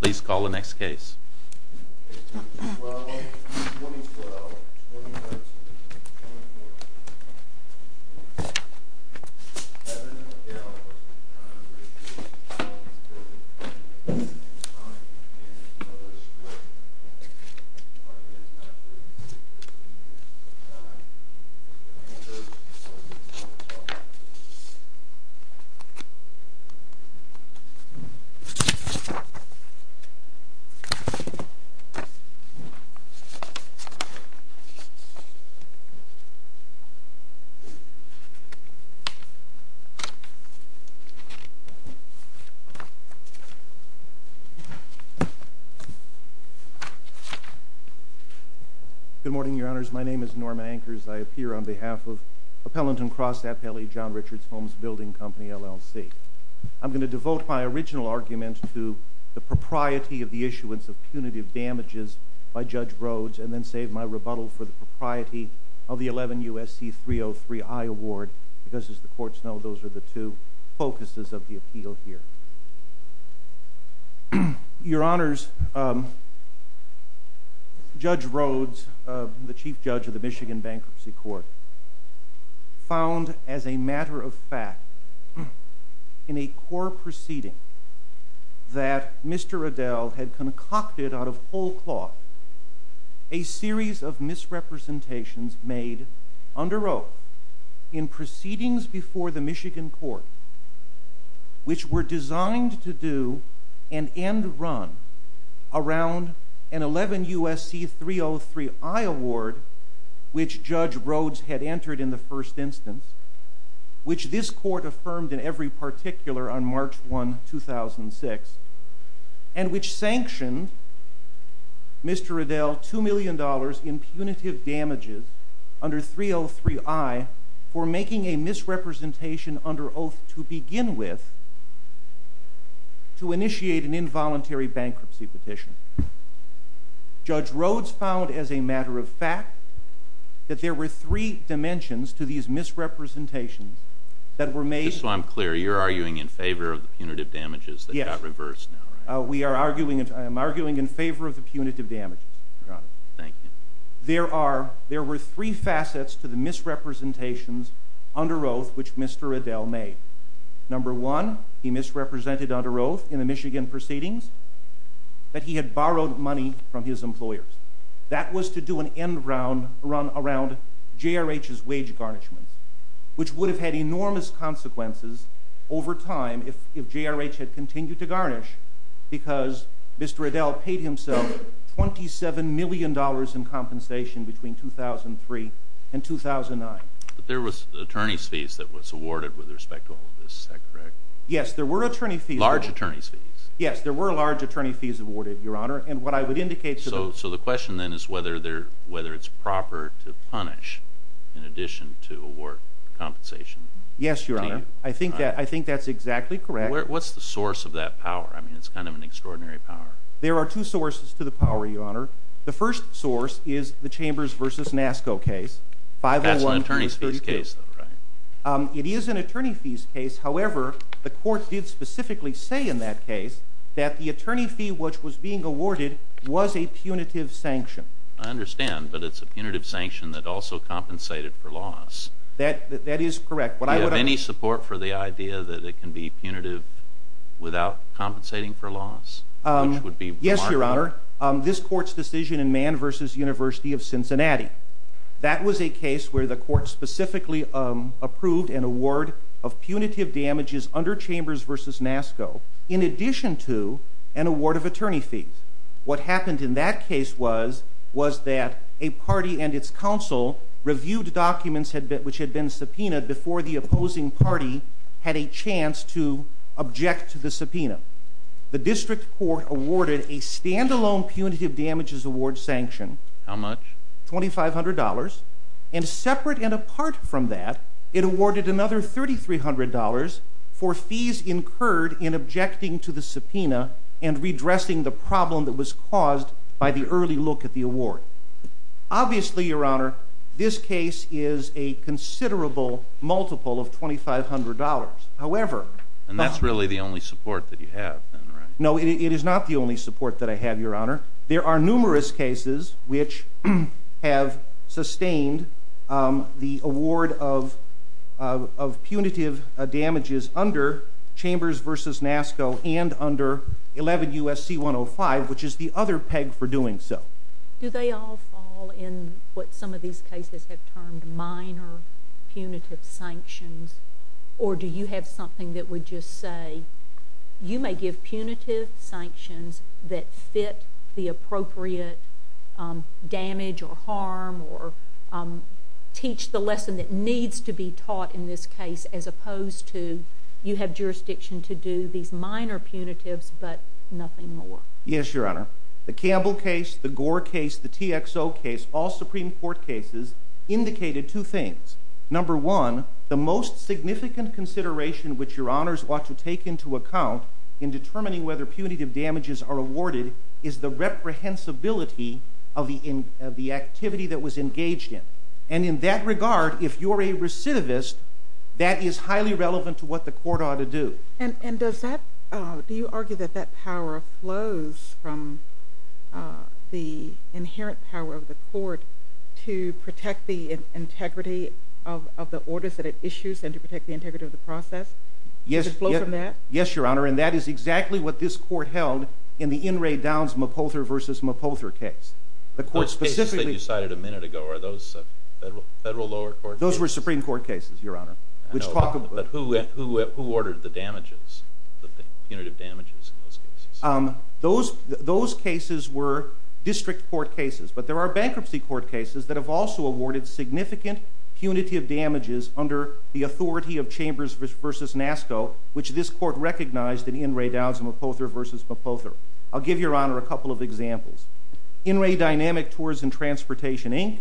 Please call the next case. Good morning, Your Honors. My name is Norm Anchors. I appear on behalf of Appellant and Cross Appellee, John Richards Homes Building Company, LLC. I'm going to devote my original argument to the propriety of the issuance of punitive damages by Judge Rhodes and then save my rebuttal for the propriety of the 11 U.S.C. 303i award because, as the courts know, those are the two focuses of the appeal here. Your Honors, Judge Rhodes, the Chief Judge of the Michigan Bankruptcy Court, found as a matter of fact in a court proceeding that Mr. Adell had concocted out of whole cloth a series of misrepresentations made under oath in proceedings before the Michigan court which were designed to do an end run around an 11 U.S.C. 303i award which Judge Rhodes had entered in the first instance, which this court affirmed in every particular on March 1, 2006, and which sanctioned Mr. Adell $2 million in punitive damages under 303i for making a misrepresentation under oath to begin with to initiate an involuntary bankruptcy petition. Judge Rhodes found as a matter of fact that there were three dimensions to these misrepresentations that were made. So I'm clear. You're arguing in favor of the punitive damages that got reversed now, right? Yes. I am arguing in favor of the punitive damages, Your Honors. Thank you. There were three facets to the misrepresentations under oath which Mr. Adell made. Number one, he misrepresented under oath in the Michigan proceedings that he had borrowed money from his employers. That was to do an end run around JRH's wage garnishment, which would have had enormous consequences over time if JRH had continued to garnish because Mr. Adell paid himself $27 million in compensation between 2003 and 2009. There was attorney's fees that was awarded with respect to all of this, is that correct? Yes, there were attorney fees. Large attorney's fees? Yes, there were large attorney fees awarded, Your Honor. And what I would indicate to the- So the question then is whether it's proper to punish in addition to award compensation? Yes, Your Honor. I think that's exactly correct. What's the source of that power? I mean, it's kind of an extraordinary power. There are two sources to the power, Your Honor. The first source is the Chambers v. NASSCO case, 501- It's an attorney's fees case, though, right? It is an attorney fees case. However, the court did specifically say in that case that the attorney fee which was being awarded was a punitive sanction. I understand, but it's a punitive sanction that also compensated for loss. That is correct. Do you have any support for the idea that it can be punitive without compensating for loss, which would be remarkable? Yes, Your Honor. This court's decision in Mann v. University of Cincinnati. That was a case where the court specifically approved an award of punitive damages under Chambers v. NASSCO in addition to an award of attorney fees. What happened in that case was that a party and its counsel reviewed documents which had been subpoenaed before the opposing party had a chance to object to the subpoena. The district court awarded a standalone punitive damages award sanction. How much? $2,500. And separate and apart from that, it awarded another $3,300 for fees incurred in objecting to the subpoena and redressing the problem that was caused by the early look at the award. Obviously, Your Honor, this case is a considerable multiple of $2,500. However— And that's really the only support that you have, then, right? No, it is not the only support that I have, Your Honor. There are numerous cases which have sustained the award of punitive damages under Chambers v. NASSCO and under 11 U.S.C. 105, which is the other peg for doing so. Do they all fall in what some of these cases have termed minor punitive sanctions? Or do you have something that would just say, you may give punitive sanctions that fit the appropriate damage or harm or teach the lesson that needs to be taught in this case, as opposed to you have jurisdiction to do these minor punitives but nothing more? Yes, Your Honor. The Campbell case, the Gore case, the TXO case, all Supreme Court cases, indicated two things. Number one, the most significant consideration which Your Honors ought to take into account in determining whether punitive damages are awarded is the reprehensibility of the activity that was engaged in. And in that regard, if you're a recidivist, that is highly relevant to what the court ought to do. And does that—do you argue that that power flows from the inherent power of the court to protect the integrity of the orders that it issues and to protect the integrity of the process? Does it flow from that? Yes, Your Honor. And that is exactly what this court held in the In re Downs Mopother v. Mopother case. The court specifically— Those cases that you cited a minute ago, are those Federal lower court cases? Those were Supreme Court cases, Your Honor, which talk about— No, but who ordered the damages, the punitive damages in those cases? Those cases were district court cases. But there are bankruptcy court cases that have also awarded significant punitive damages under the authority of Chambers v. NASCO, which this court recognized in In re Downs Mopother v. Mopother. I'll give Your Honor a couple of examples. In re Dynamic Tours and Transportation, Inc.,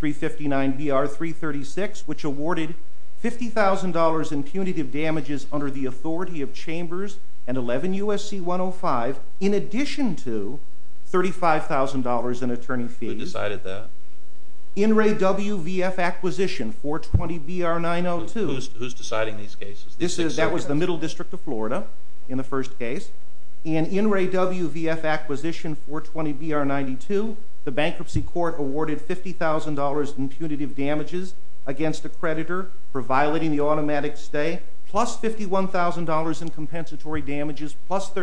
359-BR-336, which awarded $50,000 in punitive damages under the authority of Chambers and 11 U.S.C. 105, in addition to $35,000 in attorney fees— Who decided that? In re WVF Acquisition, 420-BR-902— Who's deciding these cases? That was the Middle District of Florida in the first case. In In re WVF Acquisition, 420-BR-92, the bankruptcy court awarded $50,000 in punitive damages against a creditor for violating the automatic stay, plus $51,000 in compensatory damages,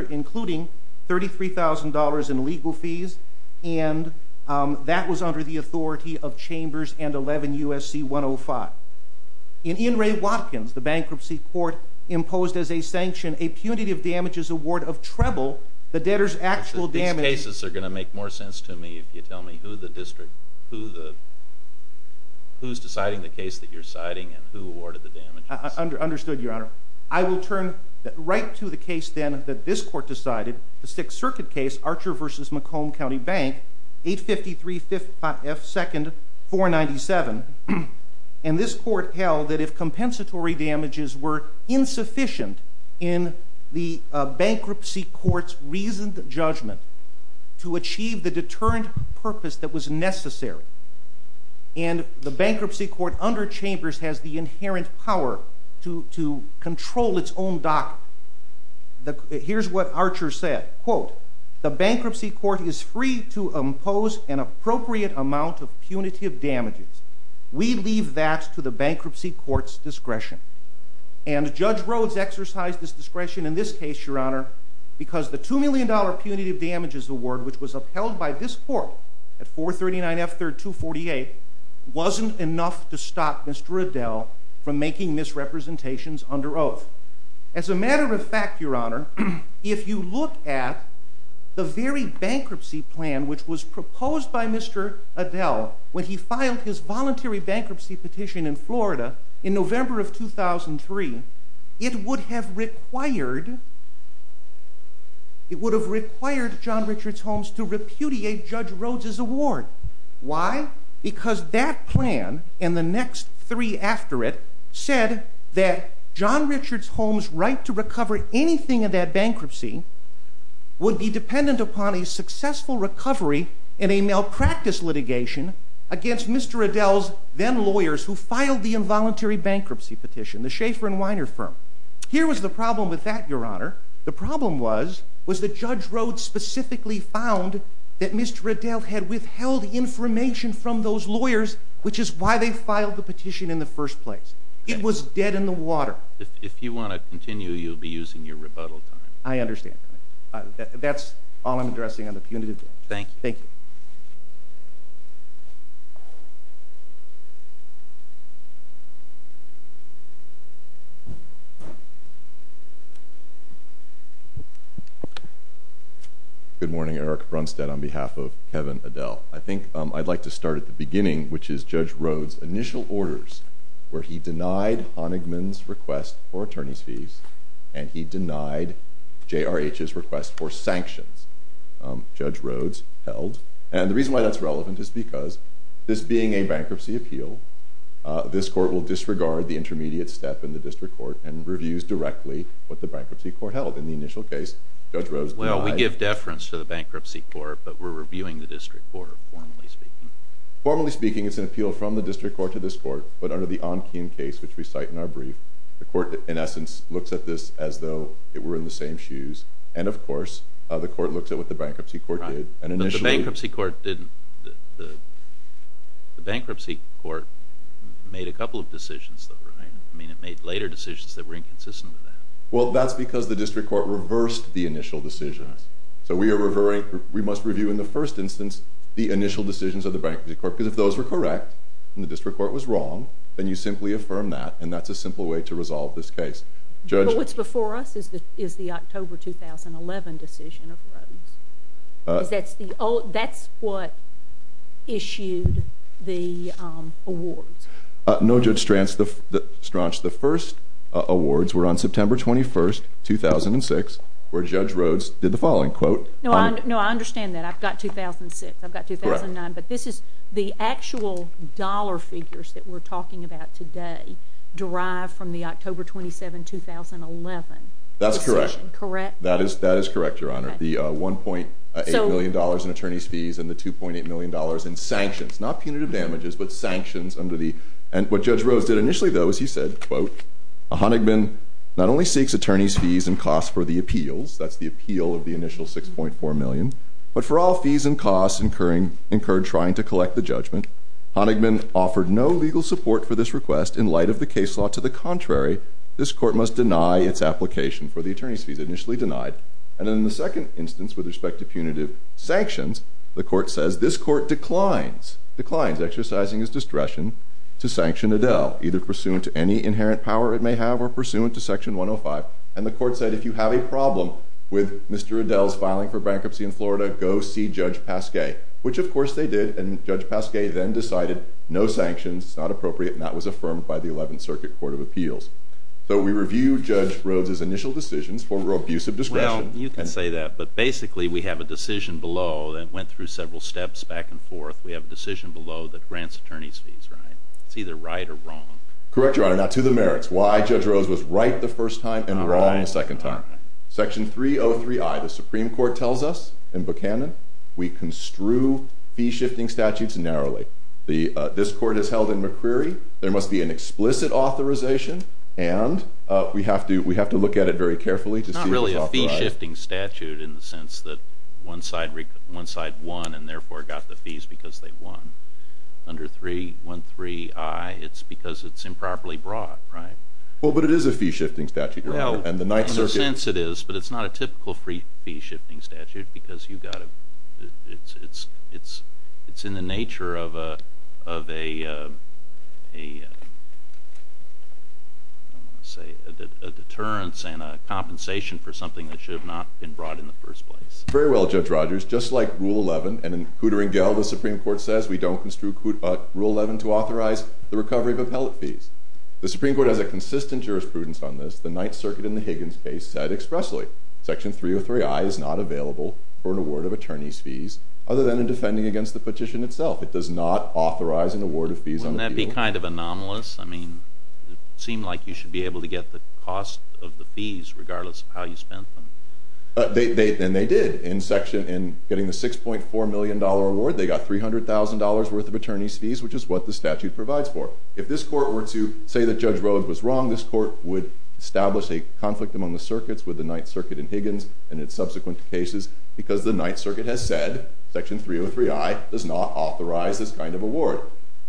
including $33,000 in legal fees, and that was under the authority of Chambers and 11 U.S.C. 105. In In re Watkins, the bankruptcy court imposed as a sanction a punitive damages award of treble the debtor's actual damages— Who's deciding the case that you're citing, and who awarded the damages? Understood, Your Honor. I will turn right to the case, then, that this Court decided, the Sixth Circuit case, Archer v. Macomb County Bank, 853 F. 2nd, 497, and this Court held that if compensatory damages were insufficient in the bankruptcy court's reasoned judgment to achieve the bankruptcy court under Chambers has the inherent power to control its own docket. Here's what Archer said, quote, the bankruptcy court is free to impose an appropriate amount of punitive damages. We leave that to the bankruptcy court's discretion. And Judge Rhodes exercised this discretion in this case, Your Honor, because the $2 million punitive damages award, which was upheld by this Court at 439 F. 3rd, 248, wasn't enough to stop Mr. Adele from making misrepresentations under oath. As a matter of fact, Your Honor, if you look at the very bankruptcy plan which was proposed by Mr. Adele when he filed his voluntary bankruptcy petition in Florida in November of 2003, it would have required John Richards Holmes to repudiate Judge Rhodes's award. Why? Because that plan and the next three after it said that John Richards Holmes' right to recover anything in that bankruptcy would be dependent upon a successful recovery in a malpractice litigation against Mr. Adele's then lawyers who filed the involuntary bankruptcy petition, the Schaefer and Weiner firm. Here was the problem with that, Your Honor. The problem was, was that Judge Rhodes specifically found that Mr. Adele had withheld information from those lawyers, which is why they filed the petition in the first place. It was dead in the water. If you want to continue, you'll be using your rebuttal time. I understand, Your Honor. That's all I'm addressing on the punitive damages. Thank you. Thank you. Good morning, Eric Brunstad on behalf of Kevin Adele. I think I'd like to start at the beginning, which is Judge Rhodes' initial orders where he denied Honigman's request for attorney's fees and he denied JRH's request for sanctions Judge Rhodes held. The reason why that's relevant is because this being a bankruptcy appeal, this court will disregard the intermediate step in the district court and reviews directly what the bankruptcy court held. In the initial case, Judge Rhodes denied— Well, we give deference to the bankruptcy court, but we're reviewing the district court, formally speaking. Formally speaking, it's an appeal from the district court to this court, but under the Ong Kim case, which we cite in our brief, the court, in essence, looks at this as though it were in the same shoes. And of course, the court looks at what the bankruptcy court did. And initially— But the bankruptcy court didn't—the bankruptcy court made a couple of decisions, though, right? I mean, it made later decisions that were inconsistent with that. Well, that's because the district court reversed the initial decisions. So we are revering—we must review, in the first instance, the initial decisions of the bankruptcy court, because if those were correct and the district court was wrong, then you simply affirm that, and that's a simple way to resolve this case. But what's before us is the October 2011 decision of Rhodes. That's what issued the awards. No, Judge Stranch, the first awards were on September 21, 2006, where Judge Rhodes did the following. No, I understand that. I've got 2006. I've got 2009. Correct. But this is—the actual dollar figures that we're talking about today derive from the October 27, 2011 decision. That's correct. Correct? That is correct, Your Honor. The $1.8 million in attorney's fees and the $2.8 million in sanctions. Not punitive damages, but sanctions under the—and what Judge Rhodes did initially, though, is he said, quote, Honigman not only seeks attorney's fees and costs for the appeals—that's the appeal of the initial $6.4 million—but for all fees and costs incurred trying to collect the judgment, Honigman offered no legal support for this request in light of the case law. To the contrary, this court must deny its application for the attorney's fees. Initially denied. And then in the second instance, with respect to punitive sanctions, the court says this court declines exercising its discretion to sanction Adele, either pursuant to any inherent power it may have or pursuant to Section 105. And the court said, if you have a problem with Mr. Adele's filing for bankruptcy in Florida, go see Judge Pasquet, which of course they did, and Judge Pasquet then decided no sanctions, it's not appropriate, and that was affirmed by the Eleventh Circuit Court of Appeals. So we review Judge Rhodes' initial decisions for abusive discretion— Well, you can say that, but basically we have a decision below that went through several steps back and forth. We have a decision below that grants attorney's fees, right? It's either right or wrong. Correct, Your Honor. To the merits. Why Judge Rhodes was right the first time and wrong the second time. Section 303i, the Supreme Court tells us in Buchanan, we construe fee-shifting statutes narrowly. This court has held in McCreary there must be an explicit authorization and we have to look at it very carefully to see if it's authorized. It's not really a fee-shifting statute in the sense that one side won and therefore got the fees because they won. Under 313i, it's because it's improperly brought, right? Well, but it is a fee-shifting statute, Your Honor. And the Ninth Circuit— In a sense it is, but it's not a typical fee-shifting statute because you've got to—it's in the nature of a, I don't want to say, a deterrence and a compensation for something that should have not been brought in the first place. Very well, Judge Rogers. Just like Rule 11 and in Cooter & Gell, the Supreme Court says we don't construe Rule 11 to authorize the recovery of appellate fees. The Supreme Court has a consistent jurisprudence on this. The Ninth Circuit in the Higgins case said expressly, Section 303i is not available for an award of attorney's fees other than in defending against the petition itself. It does not authorize an award of fees on appeal. Wouldn't that be kind of anomalous? I mean, it would seem like you should be able to get the cost of the fees regardless of how you spent them. And they did. In section—in getting the $6.4 million award, they got $300,000 worth of attorney's fees, which is what the statute provides for. If this court were to say that Judge Rhoades was wrong, this court would establish a conflict among the circuits with the Ninth Circuit in Higgins and its subsequent cases because the Ninth Circuit has said, Section 303i does not authorize this kind of award.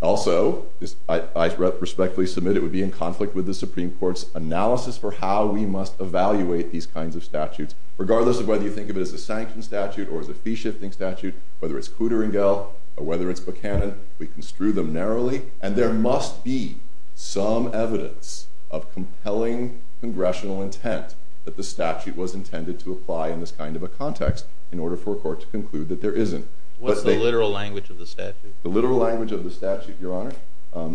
Also, I respectfully submit it would be in conflict with the Supreme Court's analysis for how we must evaluate these kinds of statutes, regardless of whether you think of it as a sanction statute or as a fee-shifting statute, whether it's Cooter and Gell or whether it's Buchanan. We construe them narrowly. And there must be some evidence of compelling congressional intent that the statute was intended to apply in this kind of a context in order for a court to conclude that there isn't. What's the literal language of the statute? The literal language of the statute, Your Honor,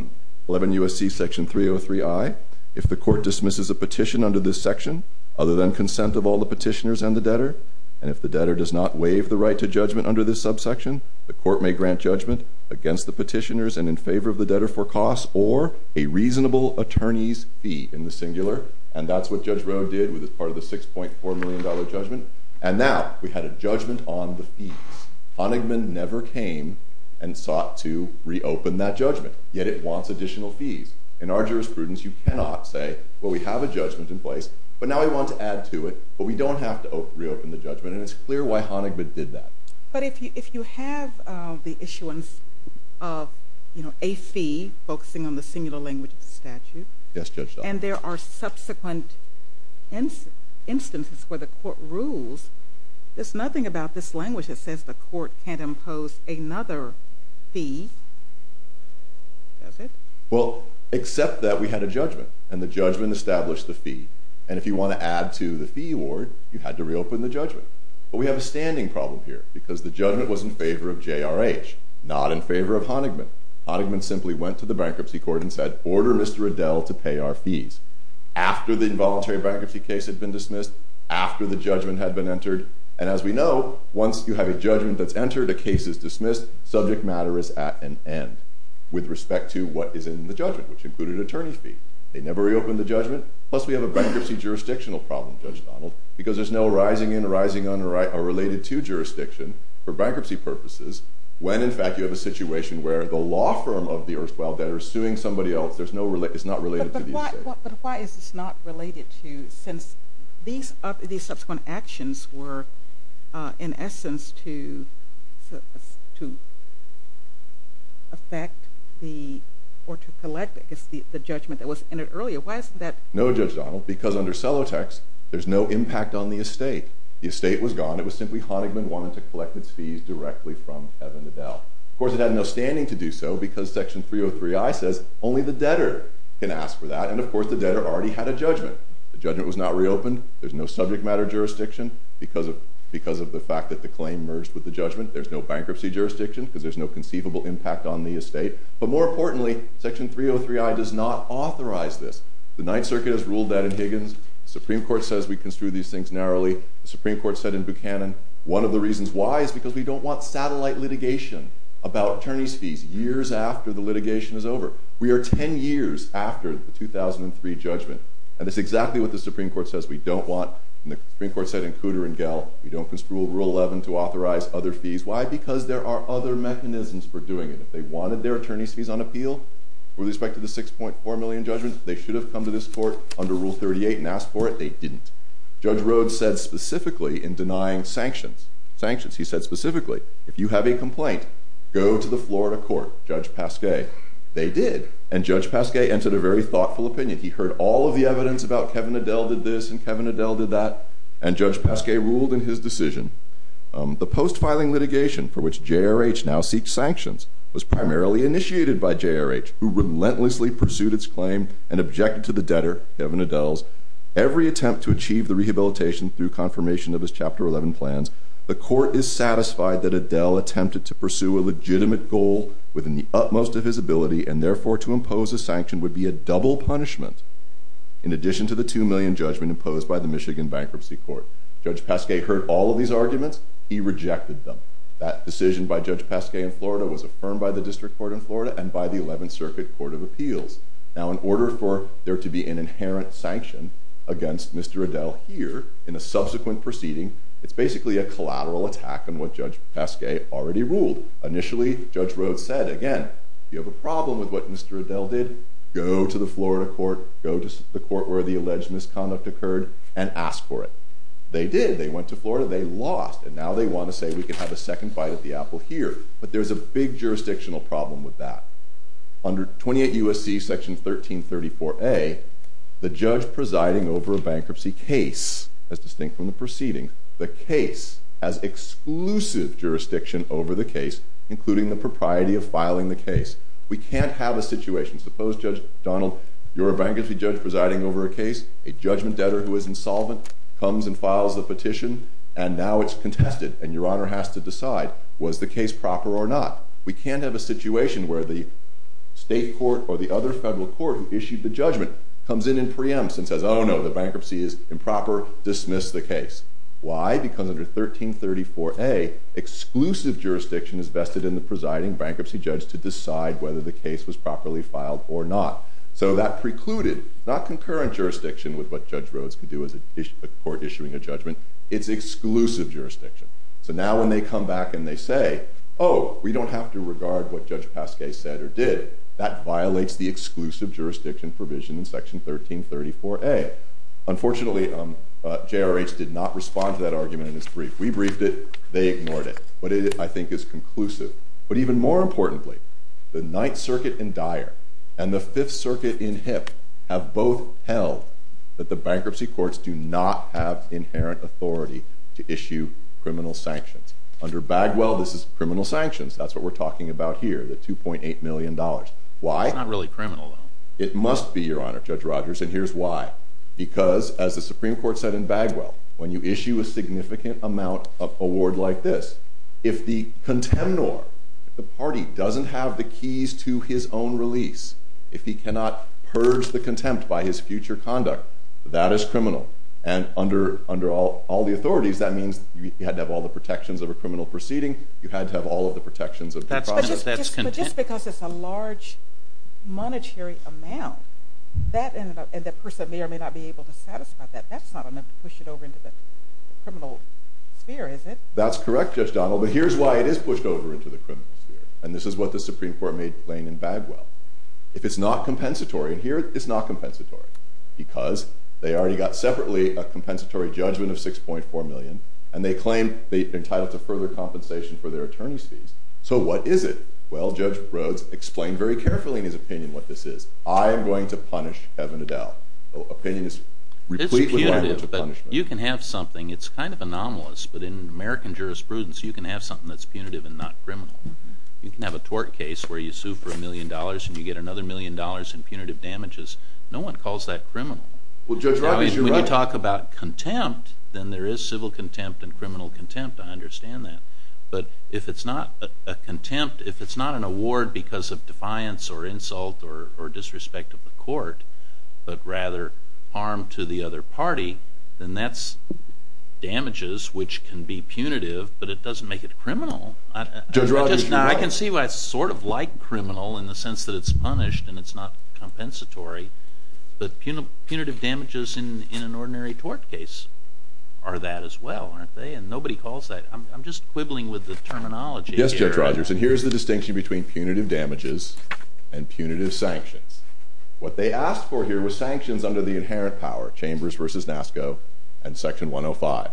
11 U.S.C. Section 303i, if the court dismisses a petition under this section, other than consent of all the petitioners and the debtor, and if the debtor does not waive the right to judgment under this subsection, the court may grant judgment against the petitioners and in favor of the debtor for costs or a reasonable attorney's fee, in the singular. And that's what Judge Rhoades did with part of the $6.4 million judgment. And now we had a judgment on the fees. Honigman never came and sought to reopen that judgment, yet it wants additional fees. In our jurisprudence, you cannot say, well, we have a judgment in place, but now we want to add to it. But we don't have to reopen the judgment, and it's clear why Honigman did that. But if you have the issuance of a fee, focusing on the singular language of the statute, and there are subsequent instances where the court rules, there's nothing about this language that says the court can't impose another fee, does it? Well, except that we had a judgment, and the judgment established the fee, and if you want to add to the fee award, you had to reopen the judgment. But we have a standing problem here, because the judgment was in favor of JRH, not in favor of Honigman. Honigman simply went to the bankruptcy court and said, order Mr. Adele to pay our fees. After the involuntary bankruptcy case had been dismissed, after the judgment had been entered, and as we know, once you have a judgment that's entered, a case is dismissed, subject matter is at an end with respect to what is in the judgment, which included attorney's fee. They never reopened the judgment. Plus, we have a bankruptcy jurisdictional problem, Judge Donald, because there's no rising and rising unrelated to jurisdiction for bankruptcy purposes, when in fact you have a situation where the law firm of the erstwhile debtor is suing somebody else, it's not related to the estate. But why is this not related to, since these subsequent actions were, in essence, to affect the, or to collect the judgment that was entered earlier, why isn't that? No, Judge Donald, because under Celotex, there's no impact on the estate. The estate was gone. It was simply Honigman wanted to collect its fees directly from Kevin Adele. Of course, it had no standing to do so, because Section 303I says, only the debtor can ask for that. And of course, the debtor already had a judgment. The judgment was not reopened. There's no subject matter jurisdiction, because of the fact that the claim merged with the judgment. There's no bankruptcy jurisdiction, because there's no conceivable impact on the estate. But more importantly, Section 303I does not authorize this. The Ninth Circuit has ruled that in Higgins, the Supreme Court says we construe these things narrowly. The Supreme Court said in Buchanan, one of the reasons why is because we don't want satellite litigation about attorney's fees years after the litigation is over. We are 10 years after the 2003 judgment, and that's exactly what the Supreme Court says we don't want. And the Supreme Court said in Cooter and Gell, we don't construe Rule 11 to authorize other fees. Why? Because there are other mechanisms for doing it. If they wanted their attorney's fees on appeal, with respect to the 6.4 million judgments, they should have come to this court under Rule 38 and asked for it. They didn't. Judge Rhoades said specifically in denying sanctions, he said specifically, if you have a complaint, go to the Florida court, Judge Pasquet. They did. And Judge Pasquet entered a very thoughtful opinion. He heard all of the evidence about Kevin Adele did this and Kevin Adele did that. And Judge Pasquet ruled in his decision, the post-filing litigation for which JRH now seeks sanctions was primarily initiated by JRH, who relentlessly pursued its claim and objected to the debtor, Kevin Adele's, every attempt to achieve the rehabilitation through confirmation of his Chapter 11 plans. The court is satisfied that Adele attempted to pursue a legitimate goal within the utmost of his ability and therefore to impose a sanction would be a double punishment in addition to the 2 million judgment imposed by the Michigan Bankruptcy Court. Judge Pasquet heard all of these arguments. He rejected them. That decision by Judge Pasquet in Florida was affirmed by the District Court in Florida and by the 11th Circuit Court of Appeals. Now in order for there to be an inherent sanction against Mr. Adele here in a subsequent proceeding, it's basically a collateral attack on what Judge Pasquet already ruled. Initially, Judge Rhodes said, again, if you have a problem with what Mr. Adele did, go to the Florida court, go to the court where the alleged misconduct occurred, and ask for it. They did. They went to Florida. They lost. And now they want to say, we can have a second fight at the apple here. But there's a big jurisdictional problem with that. Under 28 U.S.C. Section 1334a, the judge presiding over a bankruptcy case, as distinct from the preceding, the case has exclusive jurisdiction over the case, including the propriety of filing the case. We can't have a situation, suppose, Judge Donald, you're a bankruptcy judge presiding over a case, a judgment debtor who is insolvent comes and files the petition, and now it's contested and your honor has to decide, was the case proper or not? We can't have a situation where the state court or the other federal court who issued the judgment comes in and preempts and says, oh no, the bankruptcy is improper, dismiss the case. Why? Because under 1334a, exclusive jurisdiction is vested in the presiding bankruptcy judge to decide whether the case was properly filed or not. So that precluded, not concurrent jurisdiction with what Judge Rhodes can do as a court issuing a judgment, it's exclusive jurisdiction. So now when they come back and they say, oh, we don't have to regard what Judge Pasquet said or did, that violates the exclusive jurisdiction provision in Section 1334a. Unfortunately, JRH did not respond to that argument in its brief. We briefed it, they ignored it. But it, I think, is conclusive. But even more importantly, the Ninth Circuit in Dyer and the Fifth Circuit in Hipp have both held that the bankruptcy courts do not have inherent authority to issue criminal sanctions. Under Bagwell, this is criminal sanctions. That's what we're talking about here, the $2.8 million. Why? It's not really criminal, though. It must be, your honor, Judge Rogers. And here's why. Because as the Supreme Court said in Bagwell, when you issue a significant amount of award like this, if the contemnor, the party, doesn't have the keys to his own release, if he cannot purge the contempt by his future conduct, that is criminal. And under all the authorities, that means you had to have all the protections of a criminal proceeding. You had to have all of the protections of the process. That's contempt. But just because it's a large monetary amount, that ended up, and the person may or may not be able to satisfy that, that's not enough to push it over into the criminal sphere, is it? That's correct, Judge Donald. But here's why it is pushed over into the criminal sphere. And this is what the Supreme Court made plain in Bagwell. If it's not compensatory, and here it's not compensatory, because they already got separately a compensatory judgment of $6.4 million, and they claim they're entitled to further compensation for their attorney's fees. So what is it? Well, Judge Rhoades explained very carefully in his opinion what this is. I am going to punish Kevin Adell. Opinion is replete with language of punishment. You can have something, it's kind of anomalous, but in American jurisprudence, you can have something that's punitive and not criminal. You can have a tort case where you sue for a million dollars, and you get another million dollars in punitive damages. No one calls that criminal. Well, Judge Rhoades, you're right. Now, when you talk about contempt, then there is civil contempt and criminal contempt. I understand that. But if it's not a contempt, if it's not an award because of defiance or insult or disrespect of the court, but rather harm to the other party, then that's damages which can be punitive, but it doesn't make it criminal. Judge Rhoades, you're right. I can see why it's sort of like criminal in the sense that it's punished and it's not compensatory, but punitive damages in an ordinary tort case are that as well, aren't they? Nobody calls that. I'm just quibbling with the terminology here. Yes, Judge Rhoades. And here's the distinction between punitive damages and punitive sanctions. What they asked for here was sanctions under the inherent power, Chambers v. NASCO and Section 105,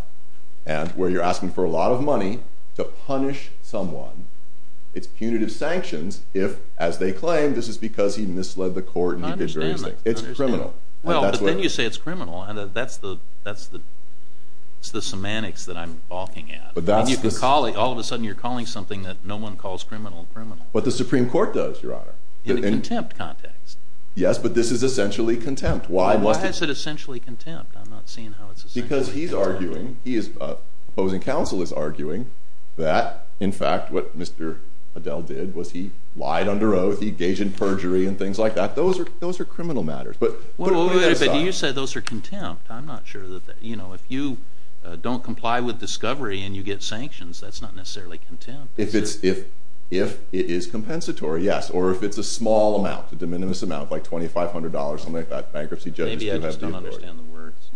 where you're asking for a lot of money to punish someone. It's punitive sanctions if, as they claim, this is because he misled the court and he did various things. I understand that. It's criminal. Well, but then you say it's criminal, and that's the semantics that I'm balking at. All of a sudden, you're calling something that no one calls criminal, criminal. What the Supreme Court does, Your Honor. In a contempt context. Yes, but this is essentially contempt. Why is it essentially contempt? I'm not seeing how it's essentially contempt. Because he's arguing, the opposing counsel is arguing that, in fact, what Mr. Adele did was he lied under oath, he engaged in perjury and things like that. Those are criminal matters. But what do you decide? Wait a minute. You said those are contempt. I'm not sure that that, you know, if you don't comply with discovery and you get sanctions, that's not necessarily contempt. If it is compensatory, yes. Or if it's a small amount, a de minimis amount, like $2,500, something like that, bankruptcy judges do have the authority. Maybe I just don't understand the words.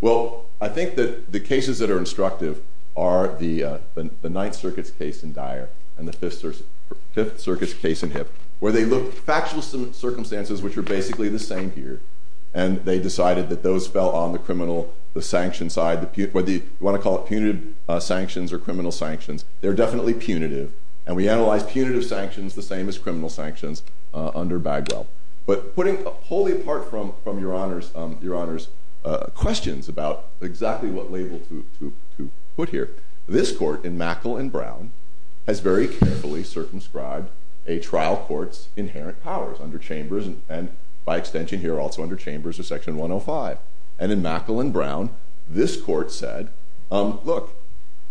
Well, I think that the cases that are instructive are the Ninth Circuit's case in Dyer and the Fifth Circuit's case in Hibb, where they looked at factual circumstances, which are basically the same here. And they decided that those fell on the criminal, the sanction side, whether you want to call it punitive sanctions or criminal sanctions, they're definitely punitive. And we analyze punitive sanctions the same as criminal sanctions under Bagwell. But putting wholly apart from Your Honor's questions about exactly what label to put here, this court in Mackle and Brown has very carefully circumscribed a trial court's inherent powers under Chambers, and by extension here, also under Chambers of Section 105. And in Mackle and Brown, this court said, look,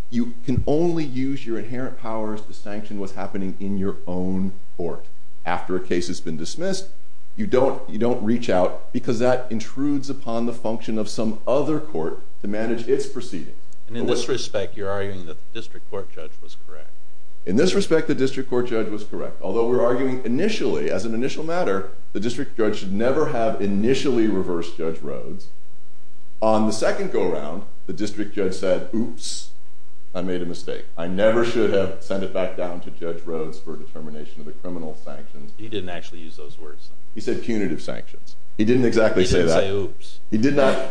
you can only use your inherent powers to sanction what's happening in your own court. After a case has been dismissed, you don't reach out, because that intrudes upon the function of some other court to manage its proceedings. And in this respect, you're arguing that the district court judge was correct. In this respect, the district court judge was correct. Although we're arguing initially, as an initial matter, the district judge should never have initially reversed Judge Rhoades. On the second go-around, the district judge said, oops, I made a mistake. I never should have sent it back down to Judge Rhoades for a determination of the criminal sanctions. He didn't actually use those words, though. He said punitive sanctions. He didn't exactly say that. He didn't say oops. He did not.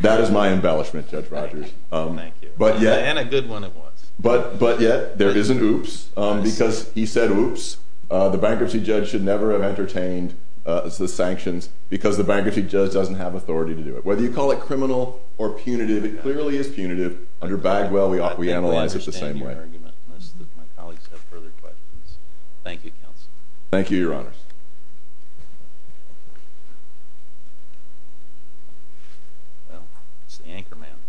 That is my embellishment, Judge Rogers. Thank you. And a good one at once. But yet, there isn't oops, because he said oops. The bankruptcy judge should never have entertained the sanctions, because the bankruptcy judge doesn't have authority to do it. Whether you call it criminal or punitive, it clearly is punitive. Under Bagwell, we analyze it the same way. I think I understand your argument, unless my colleagues have further questions. Thank you, counsel. Thank you, Your Honors. Well, it's the anchorman.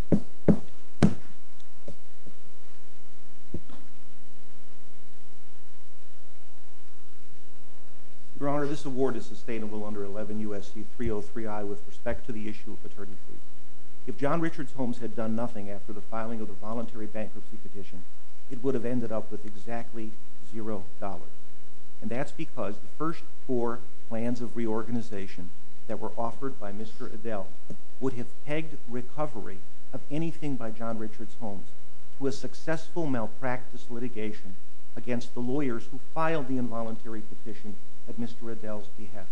Your Honor, this award is sustainable under 11 U.S.C. 303i with respect to the issue of paternity leave. If John Richards Holmes had done nothing after the filing of the voluntary bankruptcy petition, it would have ended up with exactly $0. And that's because the first four plans of reorganization that were offered by Mr. Adel would have pegged recovery of anything by John Richards Holmes to a successful malpractice litigation against the lawyers who filed the involuntary petition at Mr. Adel's behest.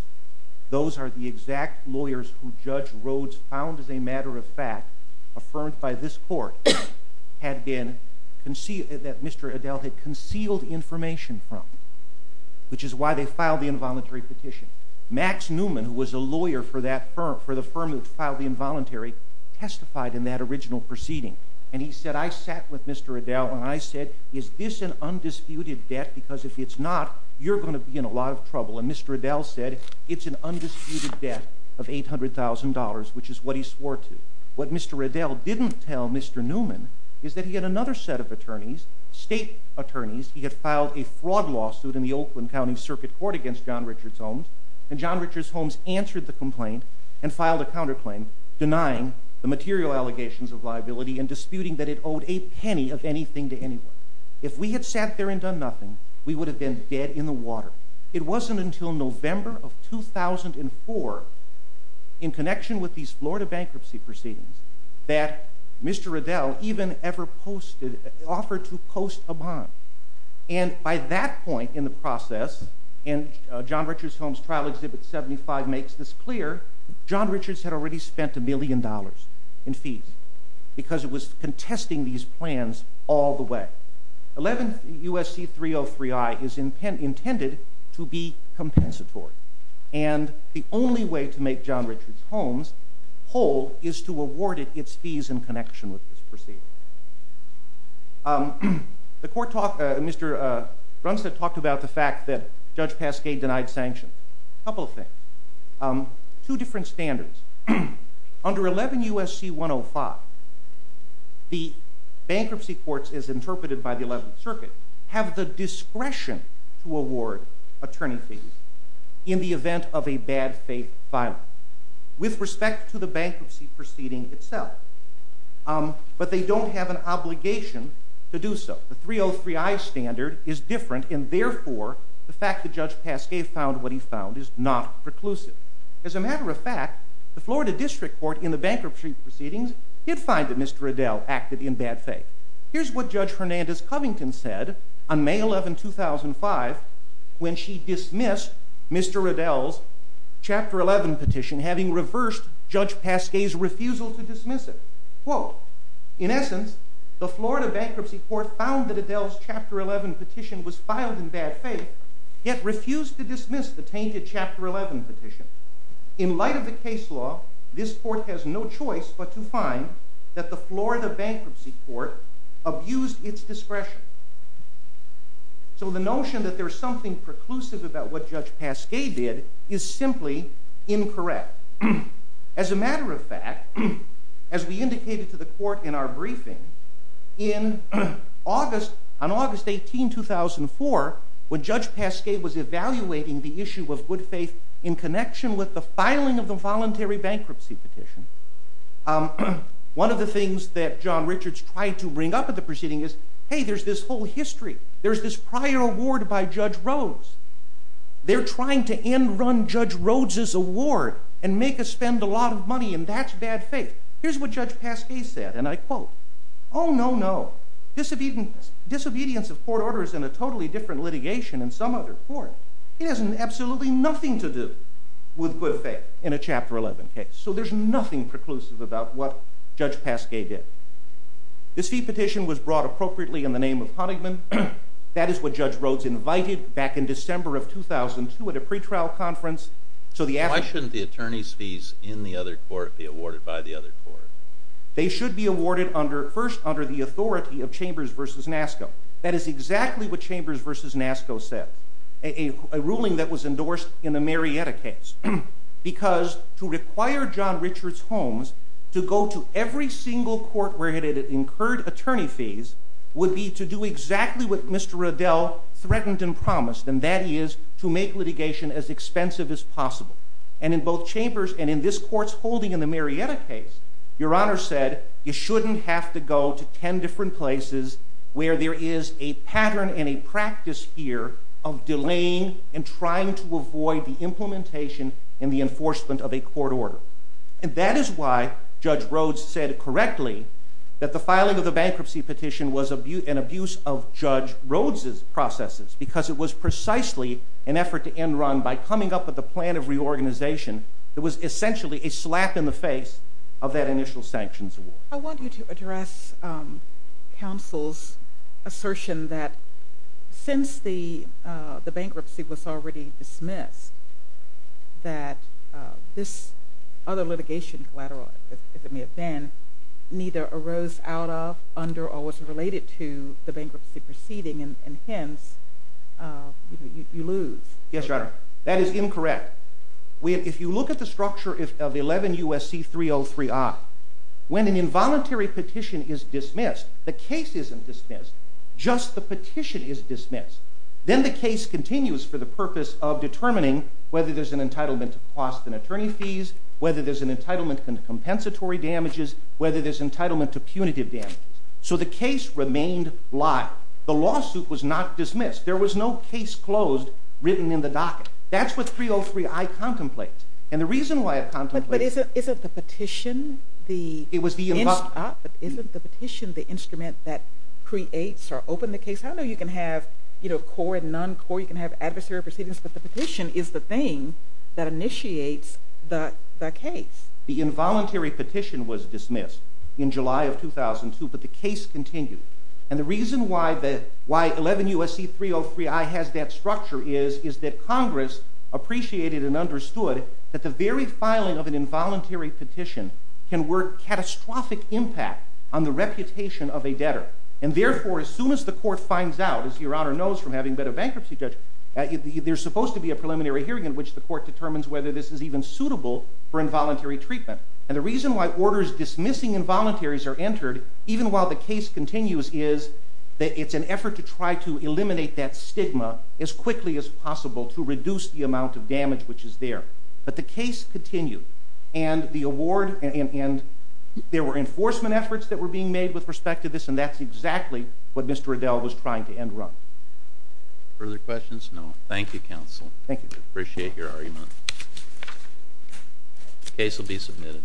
Those are the exact lawyers who Judge Rhodes found, as a matter of fact, affirmed by this court, that Mr. Adel had concealed information from, which is why they filed the involuntary petition. Max Newman, who was a lawyer for the firm that filed the involuntary, testified in that original proceeding. And he said, I sat with Mr. Adel, and I said, is this an undisputed debt? Because if it's not, you're going to be in a lot of trouble. And Mr. Adel said, it's an undisputed debt of $800,000, which is what he swore to. What Mr. Adel didn't tell Mr. Newman is that he had another set of attorneys, state attorneys. He had filed a fraud lawsuit in the Oakland County Circuit Court against John Richards Holmes. And John Richards Holmes answered the complaint and filed a counterclaim, denying the material allegations of liability and disputing that it owed a penny of anything to anyone. If we had sat there and done nothing, we would have been dead in the water. It wasn't until November of 2004, in connection with these Florida bankruptcy proceedings, that Mr. Adel even ever offered to post a bond. And by that point in the process, and John Richards Holmes' trial exhibit 75 makes this clear, John Richards had already spent a million dollars in fees, because it was contesting these plans all the way. 11 USC 303I is intended to be compensatory. And the only way to make John Richards Holmes whole is to award it its fees in connection with this proceeding. Mr. Brunstad talked about the fact that Judge Pasquet denied sanctions. A couple of things. Two different standards. Under 11 USC 105, the bankruptcy courts, as interpreted by the 11th Circuit, have the in the event of a bad faith filing, with respect to the bankruptcy proceeding itself. But they don't have an obligation to do so. The 303I standard is different, and therefore, the fact that Judge Pasquet found what he found is not preclusive. As a matter of fact, the Florida District Court in the bankruptcy proceedings did find that Mr. Adel acted in bad faith. Here's what Judge Hernandez-Covington said on May 11, 2005, when she dismissed Mr. Adel's Chapter 11 petition, having reversed Judge Pasquet's refusal to dismiss it. Quote, in essence, the Florida Bankruptcy Court found that Adel's Chapter 11 petition was filed in bad faith, yet refused to dismiss the tainted Chapter 11 petition. In light of the case law, this court has no choice but to find that the Florida Bankruptcy Court abused its discretion. So the notion that there's something preclusive about what Judge Pasquet did is simply incorrect. As a matter of fact, as we indicated to the court in our briefing, on August 18, 2004, when Judge Pasquet was evaluating the issue of good faith in connection with the filing of the voluntary bankruptcy petition, one of the things that John Richards tried to bring up at the proceeding is, hey, there's this whole history. There's this prior award by Judge Rhodes. They're trying to end-run Judge Rhodes's award and make us spend a lot of money, and that's bad faith. Here's what Judge Pasquet said, and I quote, oh, no, no. Disobedience of court order is in a totally different litigation than some other court. It has absolutely nothing to do with good faith in a Chapter 11 case. So there's nothing preclusive about what Judge Pasquet did. This fee petition was brought appropriately in the name of Honigman. That is what Judge Rhodes invited back in December of 2002 at a pretrial conference. So the after- Why shouldn't the attorney's fees in the other court be awarded by the other court? That is exactly what Chambers v. Nasco said, a ruling that was endorsed in the Marietta case. Because to require John Richards Holmes to go to every single court where he had incurred attorney fees would be to do exactly what Mr. Riddell threatened and promised, and that is to make litigation as expensive as possible. And in both Chambers and in this court's holding in the Marietta case, Your Honor said, you shouldn't have to go to 10 different places where there is a pattern and a practice here of delaying and trying to avoid the implementation and the enforcement of a court order. And that is why Judge Rhodes said correctly that the filing of the bankruptcy petition was an abuse of Judge Rhodes' processes, because it was precisely an effort to end run by coming up with a plan of reorganization that was essentially a slap in the face of that initial sanctions award. I want you to address counsel's assertion that since the bankruptcy was already dismissed, that this other litigation collateral, if it may have been, neither arose out of, under, or was related to the bankruptcy proceeding, and hence, you lose. Yes, Your Honor. That is incorrect. If you look at the structure of 11 U.S.C. 303i, when an involuntary petition is dismissed, the case isn't dismissed, just the petition is dismissed. Then the case continues for the purpose of determining whether there is an entitlement to cost and attorney fees, whether there is an entitlement to compensatory damages, whether there is an entitlement to punitive damages. So the case remained live. The lawsuit was not dismissed. There was no case closed written in the docket. That's what 303i contemplates. And the reason why it contemplates— But isn't the petition the— It was the— Isn't the petition the instrument that creates or opened the case? I know you can have core and non-core, you can have adversary proceedings, but the petition is the thing that initiates the case. The involuntary petition was dismissed in July of 2002, but the case continued. And the reason why 11 U.S.C. 303i has that structure is that Congress appreciated and understood that the very filing of an involuntary petition can work catastrophic impact on the reputation of a debtor. And therefore, as soon as the court finds out, as Your Honor knows from having been a bankruptcy judge, there's supposed to be a preliminary hearing in which the court determines whether this is even suitable for involuntary treatment. And the reason why orders dismissing involuntaries are entered, even while the case continues, is that it's an effort to try to eliminate that stigma as quickly as possible to reduce the amount of damage which is there. But the case continued, and the award— And there were enforcement efforts that were being made with respect to this, and that's exactly what Mr. Adell was trying to end run. Further questions? No? Thank you, counsel. Thank you. Appreciate your argument. The case will be submitted.